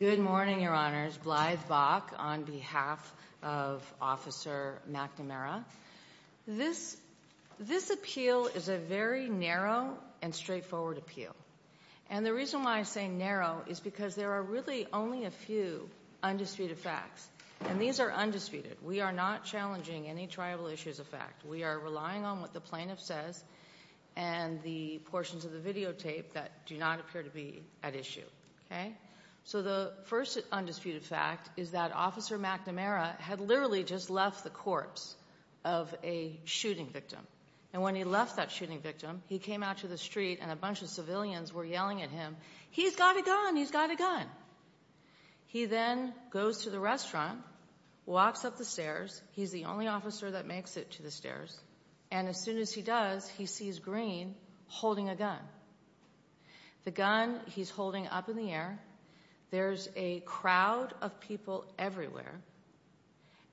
Good morning, Your Honors. Blythe Bach on behalf of Officer McNamara. This appeal is a very narrow and straightforward appeal. And the reason why I say narrow is because there are really only a few undisputed facts. And these are undisputed. We are not challenging any triable issues of fact. We are relying on what the plaintiff says and the portions of the videotape that do not appear to be at issue. So the first undisputed fact is that Officer McNamara had literally just left the corpse of a shooting victim. And when he left that shooting victim, he came out to the street and a bunch of civilians were yelling at him, he's got a gun, he's got a gun. He then goes to the restaurant, walks up the stairs, he's the only officer that makes it to the stairs, and as soon as he does, he sees Greene holding a gun. The gun he's holding up in the air, there's a crowd of people everywhere,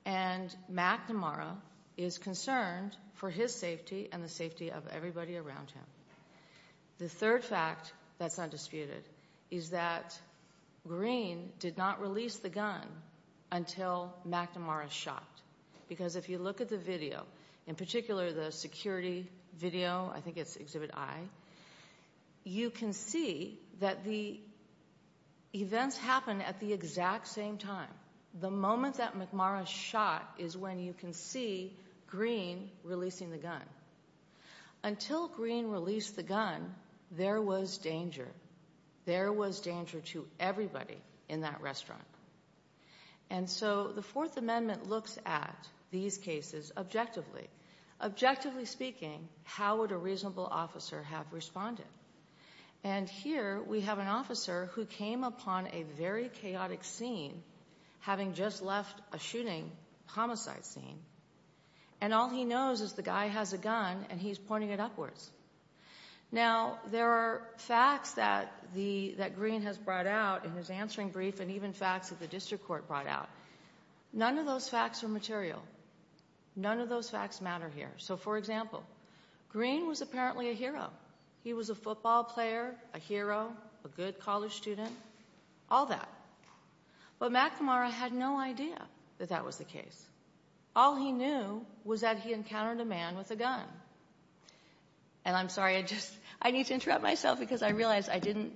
and McNamara is concerned for his safety and the safety of everybody around him. The third fact that's undisputed is that Greene did not release the gun until McNamara shot. Because if you look at the video, in particular the security video, I think it's Exhibit I, you can see that the events happened at the exact same time. The moment that McNamara shot is when you can see Greene releasing the gun. Until Greene released the gun, there was danger. There was danger to everybody in that restaurant. And so the Fourth Amendment looks at these cases objectively. Objectively speaking, how would a reasonable officer have responded? And here we have an officer who came upon a very chaotic scene, having just left a shooting homicide scene, and all he knows is the guy has a gun and he's pointing it upwards. Now, there are facts that Greene has brought out in his answering brief and even facts that the district court brought out. None of those facts are material. None of those facts matter here. So, for example, Greene was apparently a hero. He was a football player, a hero, a good college student, all that. But McNamara had no idea that that was the case. All he knew was that he encountered a man with a gun. And I'm sorry, I need to interrupt myself because I realized I didn't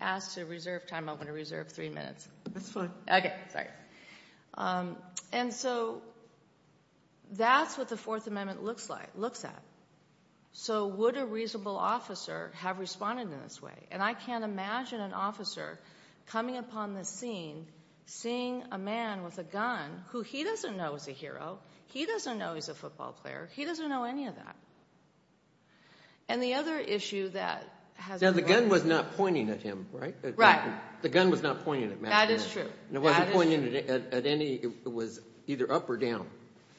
ask to reserve time. I'm going to reserve three minutes. That's fine. Okay, sorry. And so that's what the Fourth Amendment looks like, looks at. So would a reasonable officer have responded in this way? And I can't imagine an officer coming upon the scene seeing a man with a gun who he doesn't know is a hero. He doesn't know he's a football player. He doesn't know any of that. And the other issue that has... Now, the gun was not pointing at him, right? Right. The gun was not pointing at Matt Greene. That is true. It wasn't pointing at any, it was either up or down.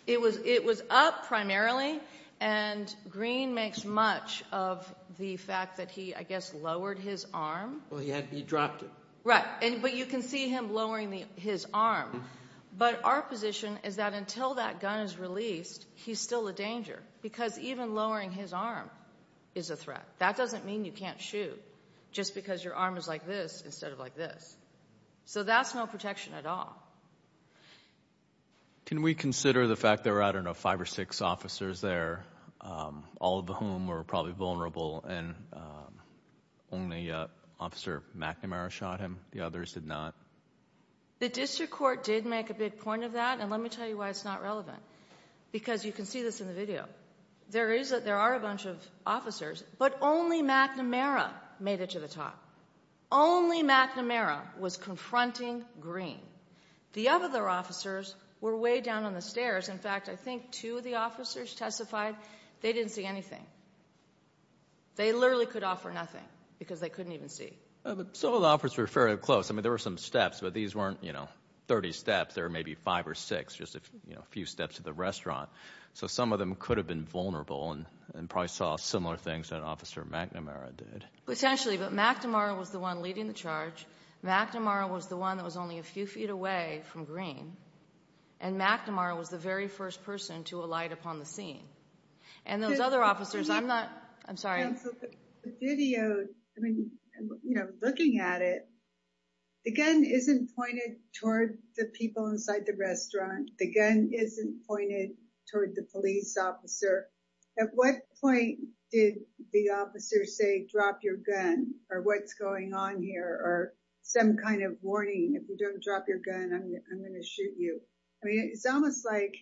It was up primarily and Greene makes much of the fact that he, I guess, lowered his arm. Well, he dropped it. Right. But you can see him lowering his arm. But our position is that until that gun is released, he's still a danger because even lowering his arm is a threat. That doesn't mean you can't shoot just because your arm is like this instead of like this. So that's no protection at all. Can we consider the fact there were, I don't know, five or six officers there, all of whom were probably did make a big point of that. And let me tell you why it's not relevant. Because you can see this in the video. There is, there are a bunch of officers, but only McNamara made it to the top. Only McNamara was confronting Greene. The other officers were way down on the stairs. In fact, I think two of the officers testified they didn't see anything. They literally could offer nothing because they couldn't even see. Some of the officers were fairly close. I mean, there were some steps, but these weren't, you know, 30 steps. There were maybe five or six, just a few steps to the restaurant. So some of them could have been vulnerable and probably saw similar things that Officer McNamara did. Essentially, but McNamara was the one leading the charge. McNamara was the one that was only a few feet away from Greene. And McNamara was the very first person to alight upon the scene. And those The gun isn't pointed toward the people inside the restaurant. The gun isn't pointed toward the police officer. At what point did the officer say, drop your gun or what's going on here or some kind of warning? If you don't drop your gun, I'm going to shoot you. I mean, it's almost like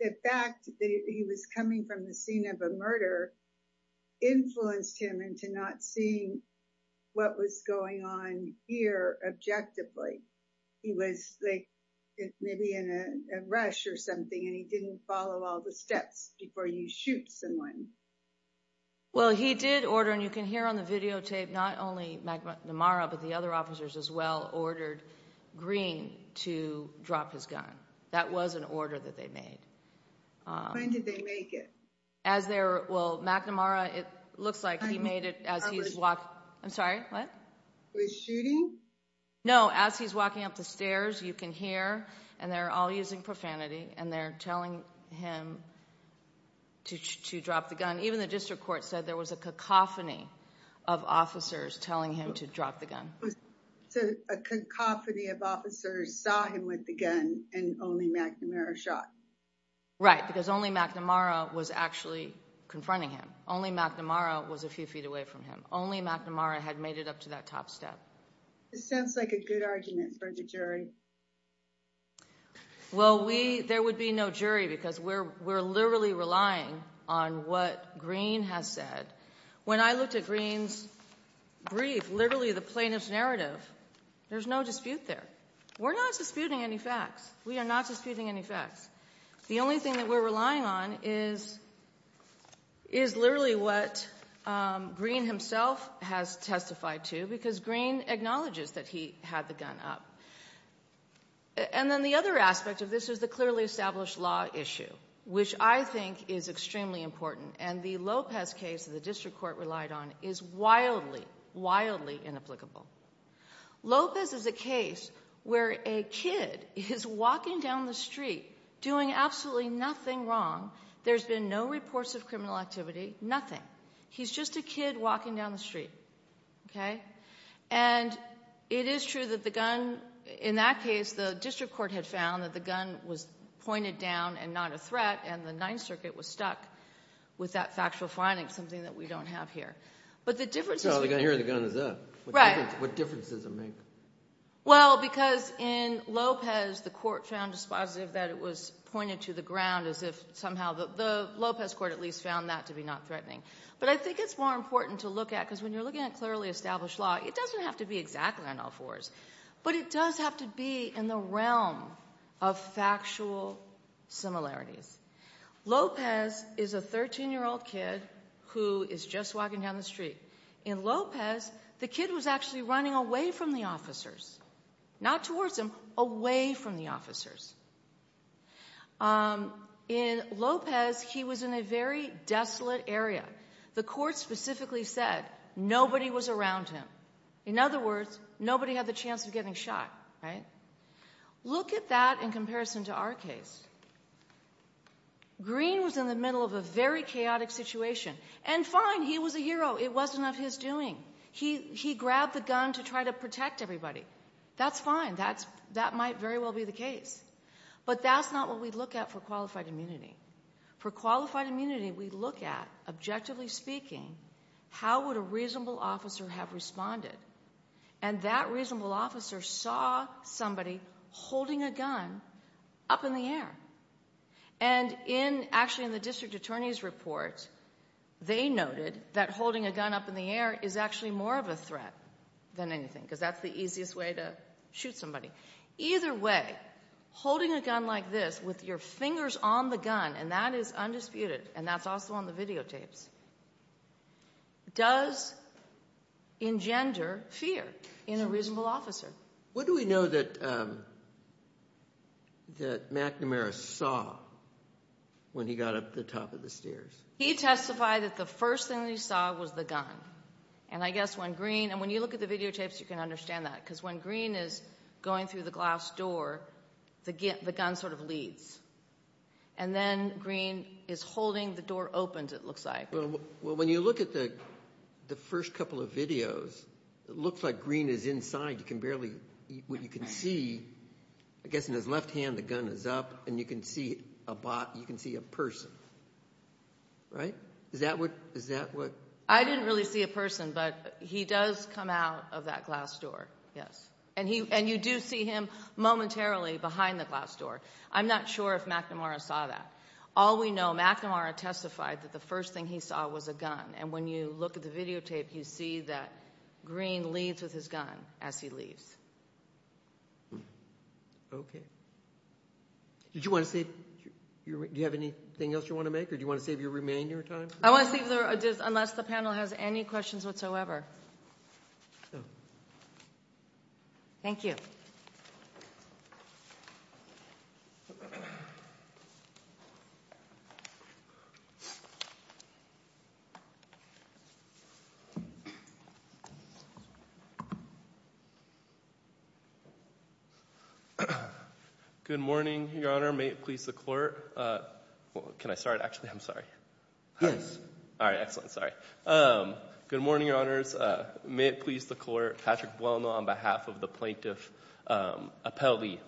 the fact that he was coming from the scene of a murder influenced him to not see what was going on here objectively. He was like, maybe in a rush or something, and he didn't follow all the steps before you shoot someone. Well, he did order and you can hear on the videotape, not only McNamara, but the other officers as well ordered Greene to drop his gun. That was an order that they made. When did they make it? As there, well, McNamara, it looks like he made it as he's walking. I'm sorry, what? Was shooting? No, as he's walking up the stairs, you can hear and they're all using profanity and they're telling him to drop the gun. Even the district court said there was a cacophony of officers telling him to drop the gun. So a cacophony of officers saw him with the gun and only McNamara shot? Right, because only McNamara was actually confronting him. Only McNamara was a few feet away from him. Only McNamara had made it up to that top step. This sounds like a good argument for the jury. Well, there would be no jury because we're literally relying on what Greene has said. When I looked at Greene's brief, literally the plaintiff's narrative, there's no dispute there. We're not disputing any facts. We are not disputing any facts. The only thing that we're relying on is literally what Greene himself has testified to because Greene acknowledges that he had the gun up. And then the other aspect of this is the clearly established law issue, which I think is extremely important. And the Lopez case that the district court relied on is wildly, wildly inapplicable. Lopez is a case where a kid is walking down the street doing absolutely nothing wrong. There's been no reports of criminal activity, nothing. He's just a kid walking down the street. And it is true that the gun, in that case, the district court had found that the gun was pointed down and not a threat and the Ninth Circuit was stuck with that factual finding, something that we don't have here. But the difference is... Well, here the gun is up. Right. What difference does it make? Well, because in Lopez, the court found dispositive that it was pointed to the ground as if somehow the Lopez court at least found that to be not threatening. But I think it's more important to look at, because when you're looking at clearly established law, it doesn't have to be exactly on all fours, but it does have to be in the realm of factual similarities. Lopez is a 13-year-old kid who is just walking down the street. In Lopez, the kid was actually running away from the officers, not towards them, away from the officers. In Lopez, he was in a very desolate area. The court specifically said nobody was around him. In other words, nobody had the chance of getting shot, right? Look at that in comparison to our case. Green was in the middle of a very chaotic situation and fine, he was a hero. It wasn't of his doing. He grabbed the gun to try to protect everybody. That's fine. That might very well be the case. But that's not what we look at for qualified immunity. For qualified immunity, we look at, objectively speaking, how would a reasonable officer have responded? That reasonable officer saw somebody holding a gun up in the air. Actually, in the district attorney's report, they noted that holding a gun up in the air is actually more of a threat than anything, because that's the easiest way to shoot somebody. Either way, holding a gun like this with your fingers on the gun, and that is undisputed, and that's also on the videotapes, does engender fear in a reasonable officer. What do we know that McNamara saw when he got up the top of the stairs? He testified that the first thing he saw was the gun. When you look at the videotapes, you can understand that, because when Green is going through the glass door, the gun sort of leads. And then Green is holding, the door opens, it looks like. Well, when you look at the first couple of videos, it looks like Green is inside. You can barely, what you can see, I guess in his left hand, the gun is up, and you can see a person. Right? Is that what? I didn't really see a person, but he does come out of that glass door, yes. And you do see him momentarily behind the glass door. I'm not sure if McNamara saw that. All we know, McNamara testified that the first thing he saw was a gun. And when you look at the videotape, you see that Green leaves with his gun as he leaves. Okay. Did you want to say, do you have anything else you want to make, or do you want to save your remaining time? I want to save, unless the panel has any questions whatsoever. Thank you. Good morning, Your Honor. May it please the Court. Can I start? Actually, I'm sorry. Yes. All right. Excellent. Sorry. Good morning, Your Honors. May it please the Court. Patrick Buolno on behalf of the Plaintiff Appellee.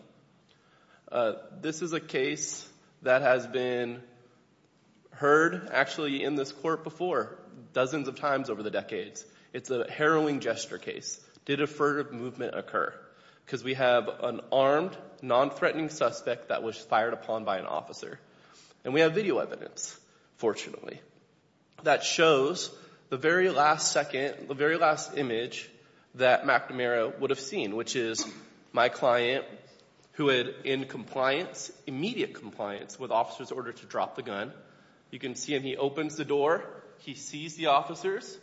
This is a case that has been heard actually in this court before, dozens of times over the decades. It's a harrowing gesture case. Did affirmative movement occur? Because we have an armed, non-threatening suspect that was fired upon by an officer. And we have video evidence, fortunately, that shows the very last second, the very last image that McNamara would have seen, which is my client who had in compliance, immediate compliance, with officers' order to drop the gun. You can see him. He opens the door. He sees the officers.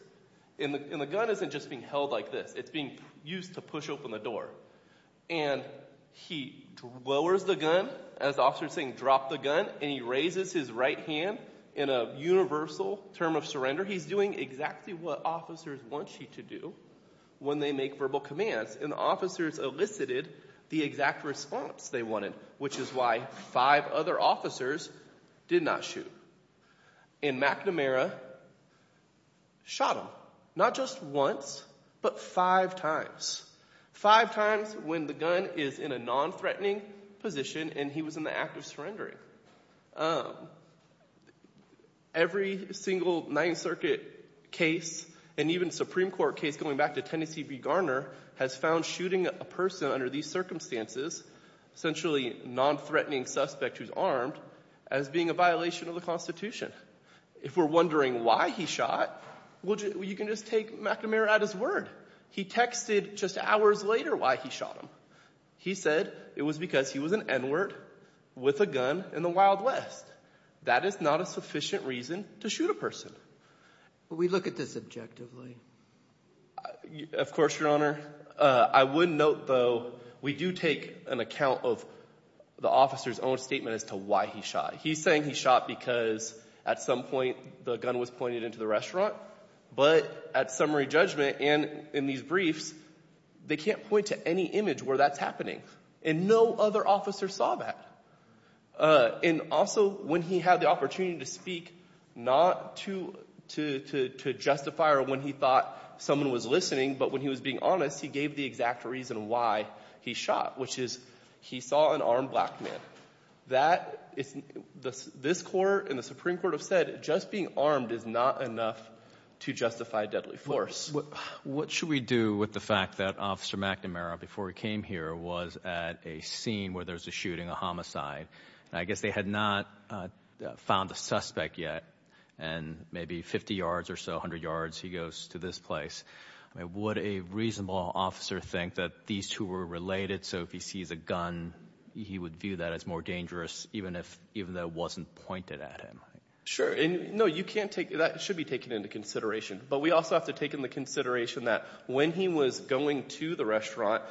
And the gun isn't just being held like this. It's being used to push open the door. And he lowers the gun. As the officer is saying, drop the gun. And he raises his right hand in a universal term of surrender. He's doing exactly what officers want you to do when they make verbal commands. And the officers elicited the exact response they wanted, which is why five other officers did not shoot. And McNamara shot him, not just once, but five times. Five times when the gun is in a non-threatening position and he was in the act of surrendering. Every single Ninth Circuit case, and even Supreme Court case going back to Tennessee v. Garner, has found shooting a person under these circumstances, essentially a non-threatening suspect who's armed, as being a violation of the Constitution. If we're wondering why he shot, you can just take McNamara at his word. He texted just hours later why he shot him. He said it was because he was an N-word with a gun in the Wild West. That is not a sufficient reason to shoot a person. But we look at this objectively. Of course, Your Honor. I would note, though, we do take an account of the officer's own statement as to why he shot. He's saying he shot because at some point the gun was pointed into the restaurant. But at summary judgment and in these briefs, they can't point to any image where that's happening. And no other officer saw that. And also, when he had the opportunity to speak, not to justify or when he thought someone was listening, but when he was being honest, he gave the exact reason why he shot, which is he saw an armed black man. This Court and the Supreme Court have said just being armed is not enough to justify deadly force. What should we do with the fact that Officer McNamara, before he came here, was at a scene where there was a shooting, a homicide. I guess they had not found a suspect yet. And maybe 50 yards or so, 100 yards, he goes to this place. Would a reasonable officer think that these two were related? So if he sees a gun, he would view that as more dangerous, even if that wasn't pointed at him? Sure. And no, you can't take that. It should be taken into consideration. But we also have to take into consideration that when he was going to the restaurant,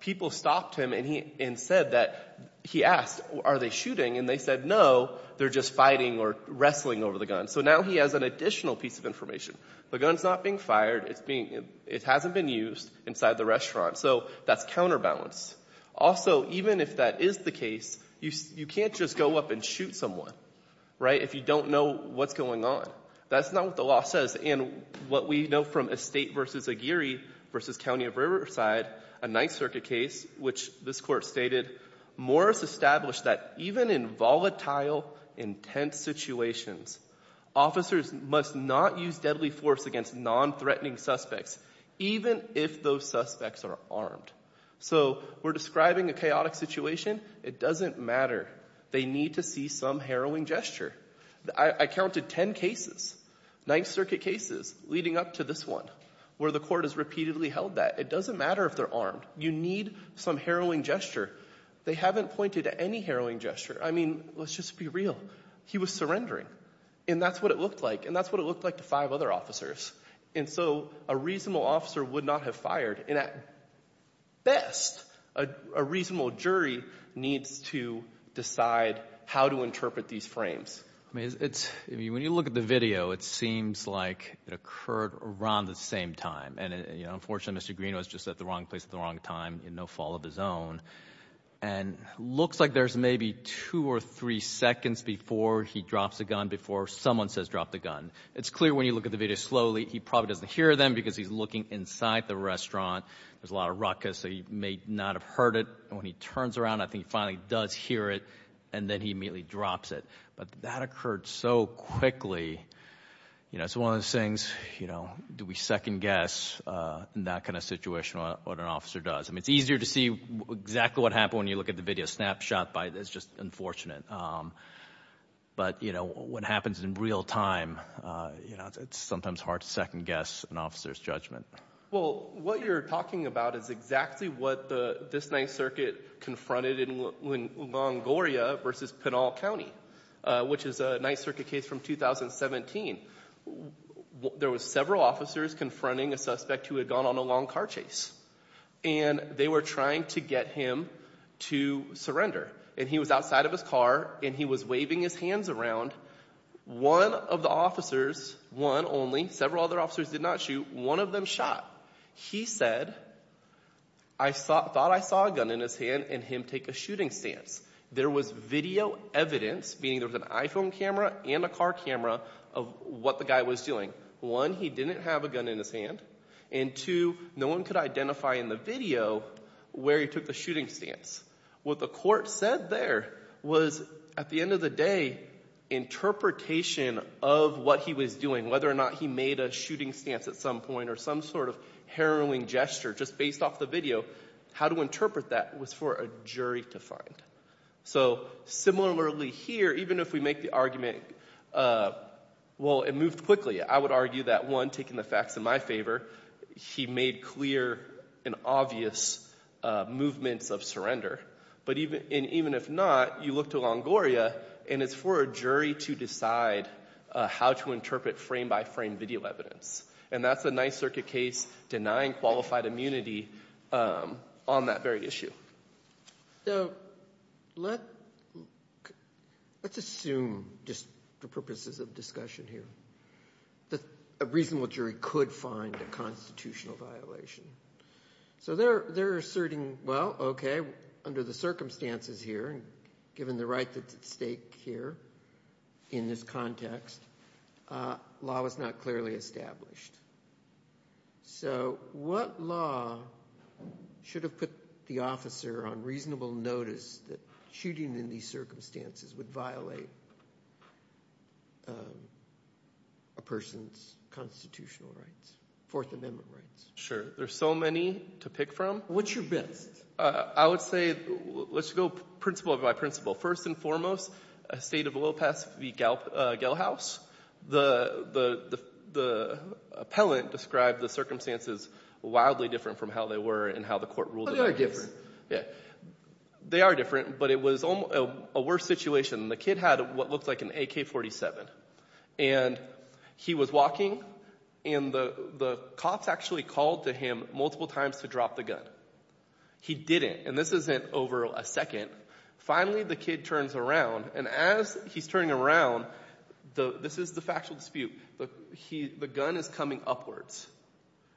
people stopped him and said that he asked, are they shooting? And they said, no, they're just fighting or wrestling over the gun. So now he has an additional piece of information. The gun's not being fired. It hasn't been used inside the restaurant. So that's counterbalance. Also, even if that is the case, you can't just go up and shoot someone, right, if you don't know what's going on. That's not what the law says. And what we know from Estate v. Aguirre v. County of Riverside, a Ninth Circuit case, which this Court stated, Morris established that even in volatile, intense situations, officers must not use deadly force against non-threatening suspects, even if those suspects are armed. So we're describing a chaotic situation. It doesn't matter. They need to see some harrowing gesture. I counted 10 cases, Ninth Circuit cases, leading up to this one, where the Court has repeatedly held that. It doesn't matter if they're armed. You need some harrowing gesture. They haven't pointed at any harrowing gesture. I mean, let's just be real. He was surrendering. And that's what it looked like. And that's what it looked like to five other officers. And so a reasonable officer would not have fired. And at best, a reasonable jury needs to decide how to interpret these frames. When you look at the video, it seems like it occurred around the same time. And unfortunately, Mr. Green was just at the wrong place at the wrong time in no fault of his own. And it looks like there's maybe two or three seconds before he drops the gun, before someone says drop the gun. It's clear when you look at the video slowly, he probably doesn't hear them because he's looking inside the restaurant. There's a lot of ruckus. So he may not have heard it. And when he turns around, I think he finally does hear it. And then he immediately drops it. But that occurred so quickly. You know, it's one of those things, you know, do we second guess in that kind of situation what an officer does? I mean, it's easier to see exactly what happened when you look at the video snapshot. It's just unfortunate. But you know, what happens in real time, it's sometimes hard to second guess an officer's judgment. Well, what you're talking about is exactly what this Ninth Circuit confronted in Longoria versus Pinal County, which is a Ninth Circuit case from 2017. There were several officers confronting a suspect who had gone on a long car chase. And they were trying to get him to surrender. And he was outside of his car and he was waving his hands around. One of the officers, one only, several other officers did not shoot, one of them shot. He said, I thought I saw a gun in his hand and him take a shooting stance. There was video evidence, meaning there was an iPhone camera and a car camera of what the guy was doing. One, he didn't have a gun in his hand. And two, no one could identify in the video where he took the shooting stance. What the court said there was, at the end of the day, interpretation of what he was doing, whether or not he made a shooting stance at some point or some sort of harrowing gesture just based off the video, how to interpret that was for a jury to find. So similarly here, even if we make the argument, well, it moved quickly. I would argue that one, taking the facts in my favor, he made clear and obvious movements of surrender. But even if not, you look to Longoria and it's for a jury to decide how to interpret frame by frame video evidence. And that's a Ninth Circuit case denying qualified immunity on that very issue. So let's assume, just for purposes of discussion here, that a reasonable jury could find a constitutional violation. So they're asserting, well, okay, under the circumstances here and given the right that's at stake here in this context, law was not clearly established. So what law should have put the officer on reasonable notice that shooting in these circumstances would violate a person's constitutional rights, Fourth Amendment rights? Sure. There's so many to pick from. What's your best? I would say, let's go principle by principle. First and foremost, a state of a little past Gell House, the appellant described the circumstances wildly different from how they were and how the court ruled. But they are different. Yeah, they are different, but it was a worse situation. The kid had what looked like an AK-47 and he was walking and the cops actually called to him multiple times to drop the gun. He didn't, and this isn't over a second, finally the kid turns around and as he's turning around, this is the factual dispute, the gun is coming upwards.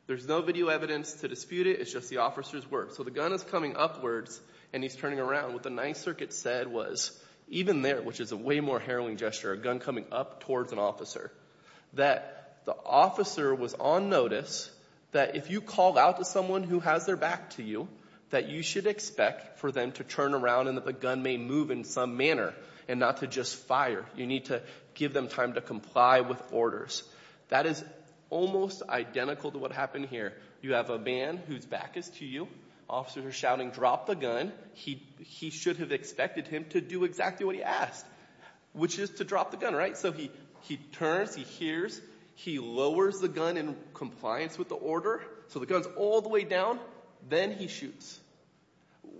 There's no video evidence to dispute it. It's just the officer's words. So the gun is coming upwards and he's turning around. What the Ninth Circuit said was, even there, which is a way more harrowing gesture, a gun coming up towards an officer, that the officer was on notice that if you call out to someone who has their back to you, that you should expect for them to turn around and that the gun may move in some manner and not to just fire. You need to give them time to comply with orders. That is almost identical to what happened here. You have a man whose back is to you, officers are shouting, drop the gun. He should have expected him to do exactly what he asked, which is to drop the gun, right? So he turns, he hears, he lowers the gun in compliance with the order, so the gun's all the way down, then he shoots.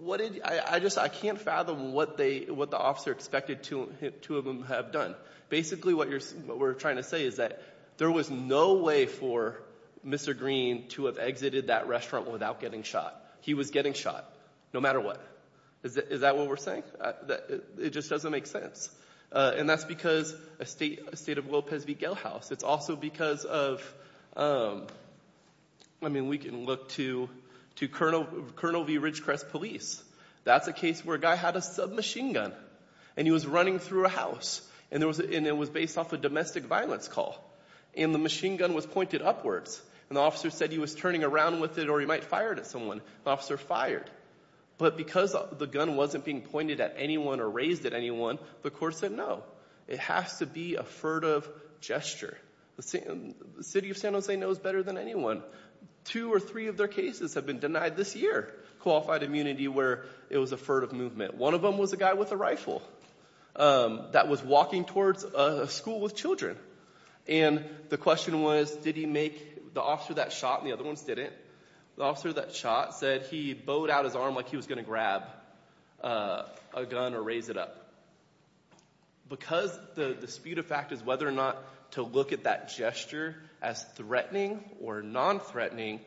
I can't fathom what the officer expected two of them to have done. Basically what we're trying to say is that there was no way for Mr. Green to have exited that restaurant without getting shot. He was getting shot, no matter what. Is that what we're saying? It just doesn't make sense. And that's because of a state of order. I mean, we can look to Colonel V. Ridgecrest police. That's a case where a guy had a submachine gun, and he was running through a house, and it was based off a domestic violence call. And the machine gun was pointed upwards, and the officer said he was turning around with it or he might fire it at someone. The officer fired. But because the gun wasn't being pointed at anyone or raised at anyone, the court said no. It has to be a furtive gesture. The city of San Jose knows better than anyone. Two or three of their cases have been denied this year, qualified immunity, where it was a furtive movement. One of them was a guy with a rifle that was walking towards a school with children. And the question was, did he make, the officer that shot, and the other ones didn't, the officer that shot said he bowed out his arm like he was going to grab a gun or raise it up. Because the dispute of fact is whether or not to look at that gesture as threatening or non-threatening,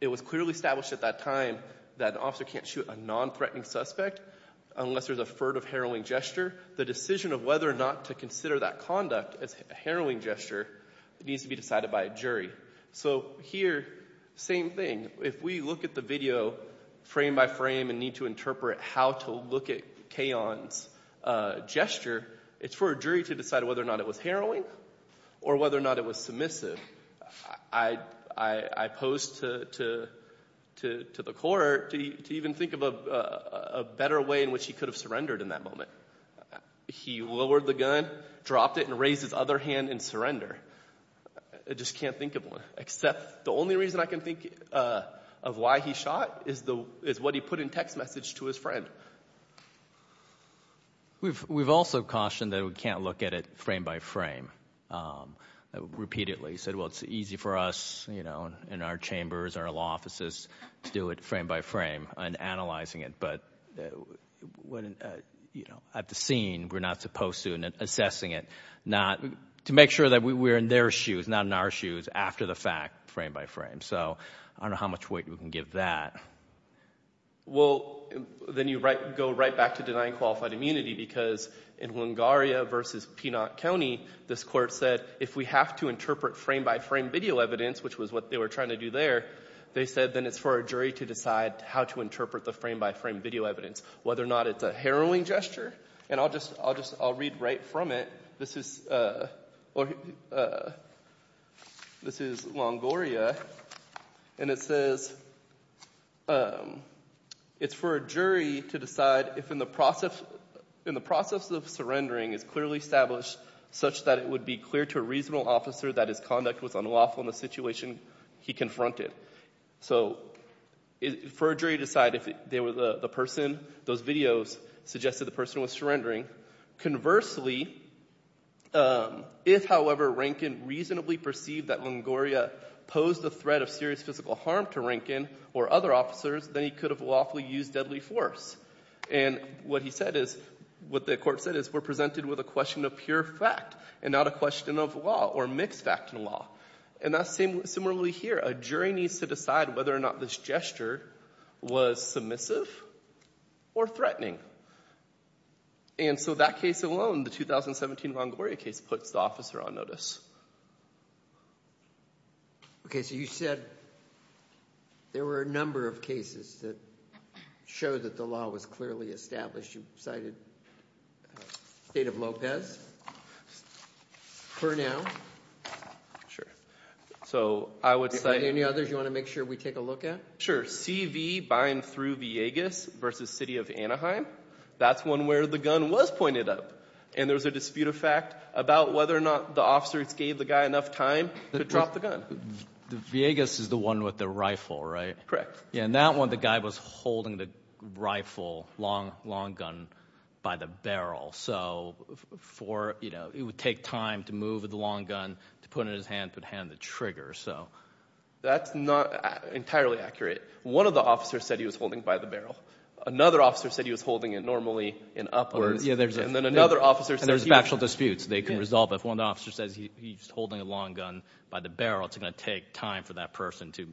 it was clearly established at that time that an officer can't shoot a non-threatening suspect unless there's a furtive harrowing gesture. The decision of whether or not to consider that conduct as a harrowing gesture needs to be decided by a jury. So here, same thing. If we look at the video frame by frame and need to interpret how to look at Kayon's gesture, it's for a jury to decide whether or not it was harrowing or whether or not it was submissive. I posed to the court to even think of a better way in which he could have surrendered in that moment. He lowered the gun, dropped it, and raised his other hand in surrender. I just can't think of one, except the only reason I can think of why he shot is what he put in text message to his friend. We've also cautioned that we can't look at it frame by frame repeatedly. Said, well, it's easy for us, you know, in our chambers, our law offices, to do it frame by frame and analyzing it. But at the scene, we're not supposed to, and assessing it, to make sure that we're in their shoes, not in our shoes, after the fact, frame by frame. So I don't know how much weight we can give that. Well, then you go right back to denying qualified immunity, because in Longoria versus Pienaar County, this court said, if we have to interpret frame by frame video evidence, which was what they were trying to do there, they said then it's for a jury to decide how to interpret the frame by frame video evidence, whether or not it's a harrowing gesture. And I'll just read right from it. This is Longoria, and it says, it's for a jury to decide if in the process of surrendering is clearly established such that it would be clear to a reasonable officer that his conduct was unlawful in the situation he confronted. So for a jury to decide if they were the person, those videos suggested the person was surrendering. Conversely, if, however, Rankin reasonably perceived that Longoria posed the threat of serious physical harm to Rankin or other officers, then he could have lawfully used deadly force. And what he said is, what the court said is, we're presented with a question of pure fact and not a question of law or mixed fact and law. And that's similarly here. A jury needs to decide whether or not this gesture was submissive or threatening. And so that case alone, the 2017 Longoria case, puts the officer on notice. Okay, so you said there were a number of cases that show that the law was clearly established. You cited the state of Lopez for now. Sure. So I would say... Any others you want to make sure we take a look at? Sure. CV by and through Villegas versus City of Anaheim. That's one where the gun was pointed up. And there was a dispute of fact about whether or not the officers gave the guy enough time to drop the gun. Villegas is the one with the rifle, right? Correct. And that one, the guy was holding the rifle, long gun, by the barrel. So for, you know, it would take time to move the long gun, to put it in his hand, put a hand on the trigger. So that's not entirely accurate. One of the officers said he was holding by the barrel. Another officer said he was holding it normally and upwards. Yeah, there's... And then another officer said... There's factual disputes they can resolve. If one officer says he's holding a long gun by the barrel, it's going to take time for that person to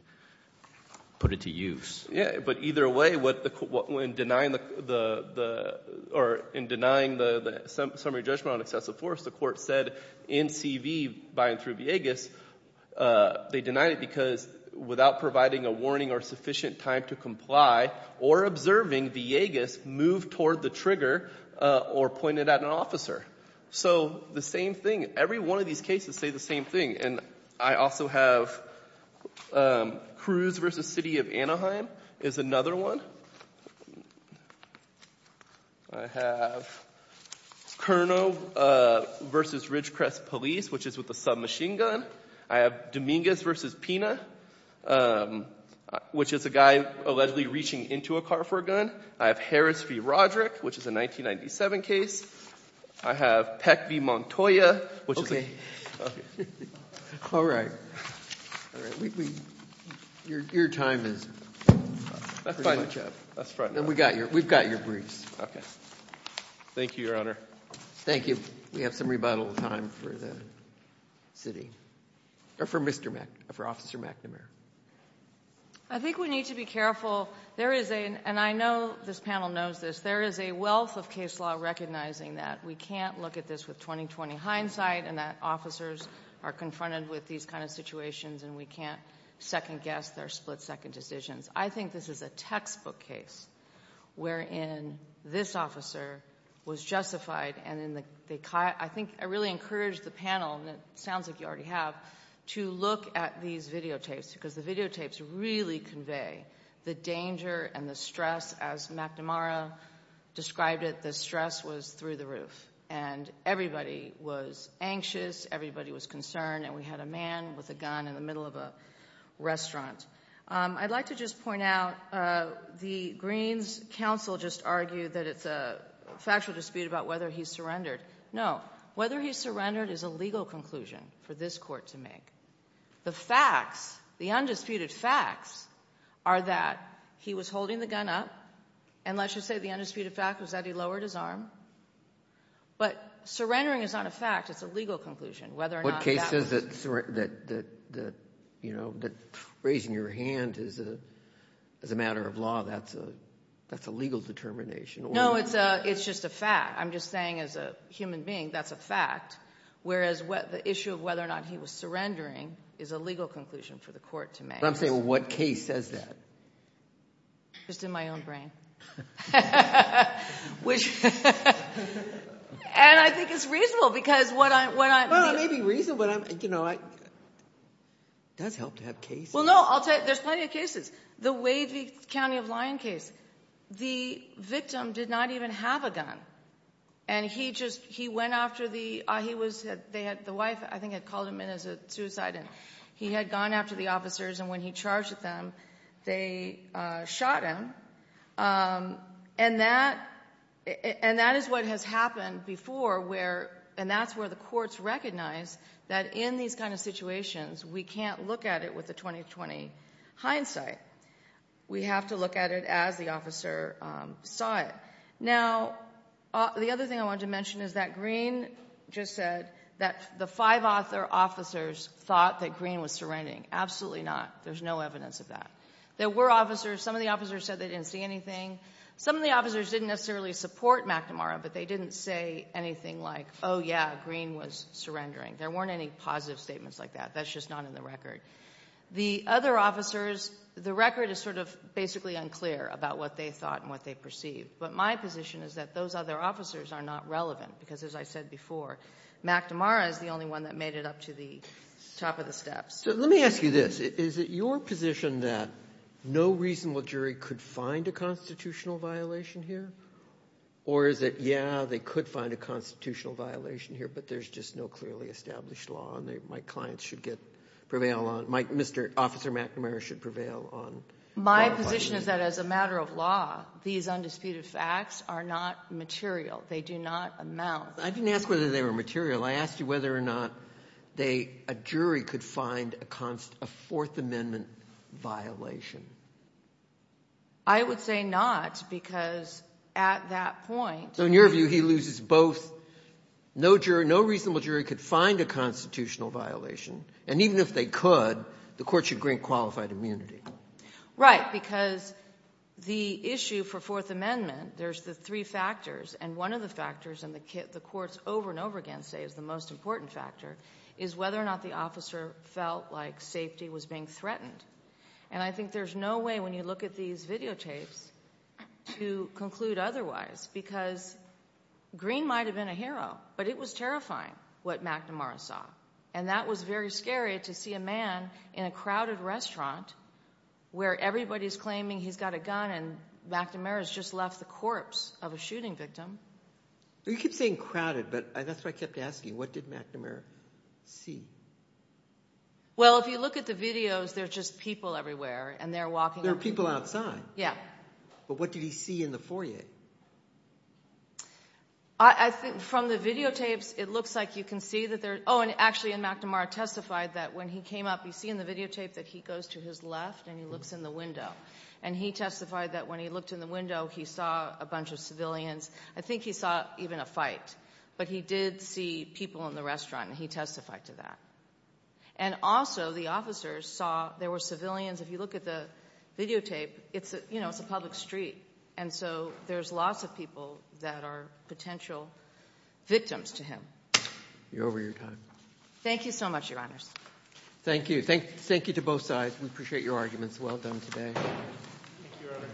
put it to use. Yeah, but either way, in denying the summary judgment on excessive force, the court said NCV by and through Villegas, they denied it because without providing a warning or sufficient time to comply or observing, Villegas moved toward the trigger or pointed at an officer. So the same thing. Every one of these cases say the same thing. And I also have Cruz v. City of Anaheim is another one. I have Kernow v. Ridgecrest Police, which is with a submachine gun. I have Dominguez v. Pina, which is a guy allegedly reaching into a car for a gun. I have Harris v. Roderick, which is a 1997 case. I have Peck v. Montoya, which is... All right. Your time is pretty much up. That's fine. And we've got your briefs. Okay. Thank you, Your Honor. Thank you. We have some rebuttal time for the city. Or for Mr. McNamara, for Officer McNamara. I think we need to be careful. There is a... And I know this panel knows this. There is a wealth of case law recognizing that we can't look at this with 20-20 hindsight and that officers are confronted with these kinds of situations and we can't second guess their split-second decisions. I think this is a textbook case wherein this officer was justified and in the... I think I really encourage the panel, and it sounds like you already have, to look at these videotapes because the videotapes really convey the danger and the stress as Mr. McNamara described it. The stress was through the roof. And everybody was anxious. Everybody was concerned. And we had a man with a gun in the middle of a restaurant. I'd like to just point out, the Greens counsel just argued that it's a factual dispute about whether he surrendered. No. Whether he surrendered is a legal conclusion for this court to make. The facts, the undisputed facts, are that he was holding the gun up, and let's just say the undisputed fact was that he lowered his arm. But surrendering is not a fact. It's a legal conclusion whether or not that was... What case says that, you know, that raising your hand is a matter of law, that's a legal determination or... No, it's just a fact. I'm just saying as a human being, that's a whereas the issue of whether or not he was surrendering is a legal conclusion for the court to make. I'm saying what case says that? Just in my own brain. And I think it's reasonable because what I... Well, it may be reasonable, but you know, it does help to have cases. Well, no, I'll tell you, there's plenty of cases. The Wavy County of Lyon case. The victim did not even have a gun, and he just... He went after the... He was... They had... The wife, I think, had called him in as a suicide, and he had gone after the officers, and when he charged at them, they shot him. And that is what has happened before where... And that's where the courts recognize that in these kind of situations, we can't look at it with the 20-20 hindsight. We have to look at it as the officer saw it. Now, the other thing I wanted to mention is that Green just said that the five officer officers thought that Green was surrendering. Absolutely not. There's no evidence of that. There were officers. Some of the officers said they didn't see anything. Some of the officers didn't necessarily support McNamara, but they didn't say anything like, oh yeah, Green was surrendering. There weren't any positive statements like that. That's just not in the record. The other officers, the record is sort of basically unclear about what they thought and what they perceived. But my position is that those other officers are not relevant, because as I said before, McNamara is the only one that made it up to the top of the steps. So let me ask you this. Is it your position that no reasonable jury could find a constitutional violation here? Or is it, yeah, they could find a constitutional violation here, but there's just no clearly established law and my clients should prevail on, Officer McNamara should prevail on? My position is that as a matter of law, these undisputed facts are not material. They do not amount. I didn't ask whether they were material. I asked you whether or not a jury could find a fourth amendment violation. I would say not, because at that point In your view, he loses both. No jury, no reasonable jury could find a constitutional violation. And even if they could, the Court should grant qualified immunity. Right. Because the issue for fourth amendment, there's the three factors. And one of the factors, and the courts over and over again say it's the most important factor, is whether or not the officer felt like safety was being threatened. And I think there's no way, when you look at these videotapes, to conclude otherwise, because Green might have been a hero, but it was terrifying what McNamara saw. And that was very scary to see a man in a crowded restaurant where everybody's claiming he's got a gun and McNamara's just left the corpse of a shooting victim. You keep saying crowded, but that's what I kept asking. What did McNamara see? Well, if you look at the videos, there's just people everywhere, and they're walking up. There are people outside. Yeah. But what did he see in the foyer? I think from the videotapes, it looks like you can see that there's, oh, and actually McNamara testified that when he came up, you see in the videotape that he goes to his left and he looks in the window. And he testified that when he looked in the window, he saw a bunch of civilians. I think he saw even a fight. But he did see people in the restaurant, and he testified to that. And also, the officers saw there were civilians. If you look at the videotape, it's a public street, and so there's lots of people that are potential victims to him. You're over your time. Thank you so much, Your Honors. Thank you. Thank you to both sides. We appreciate your arguments. Well done today.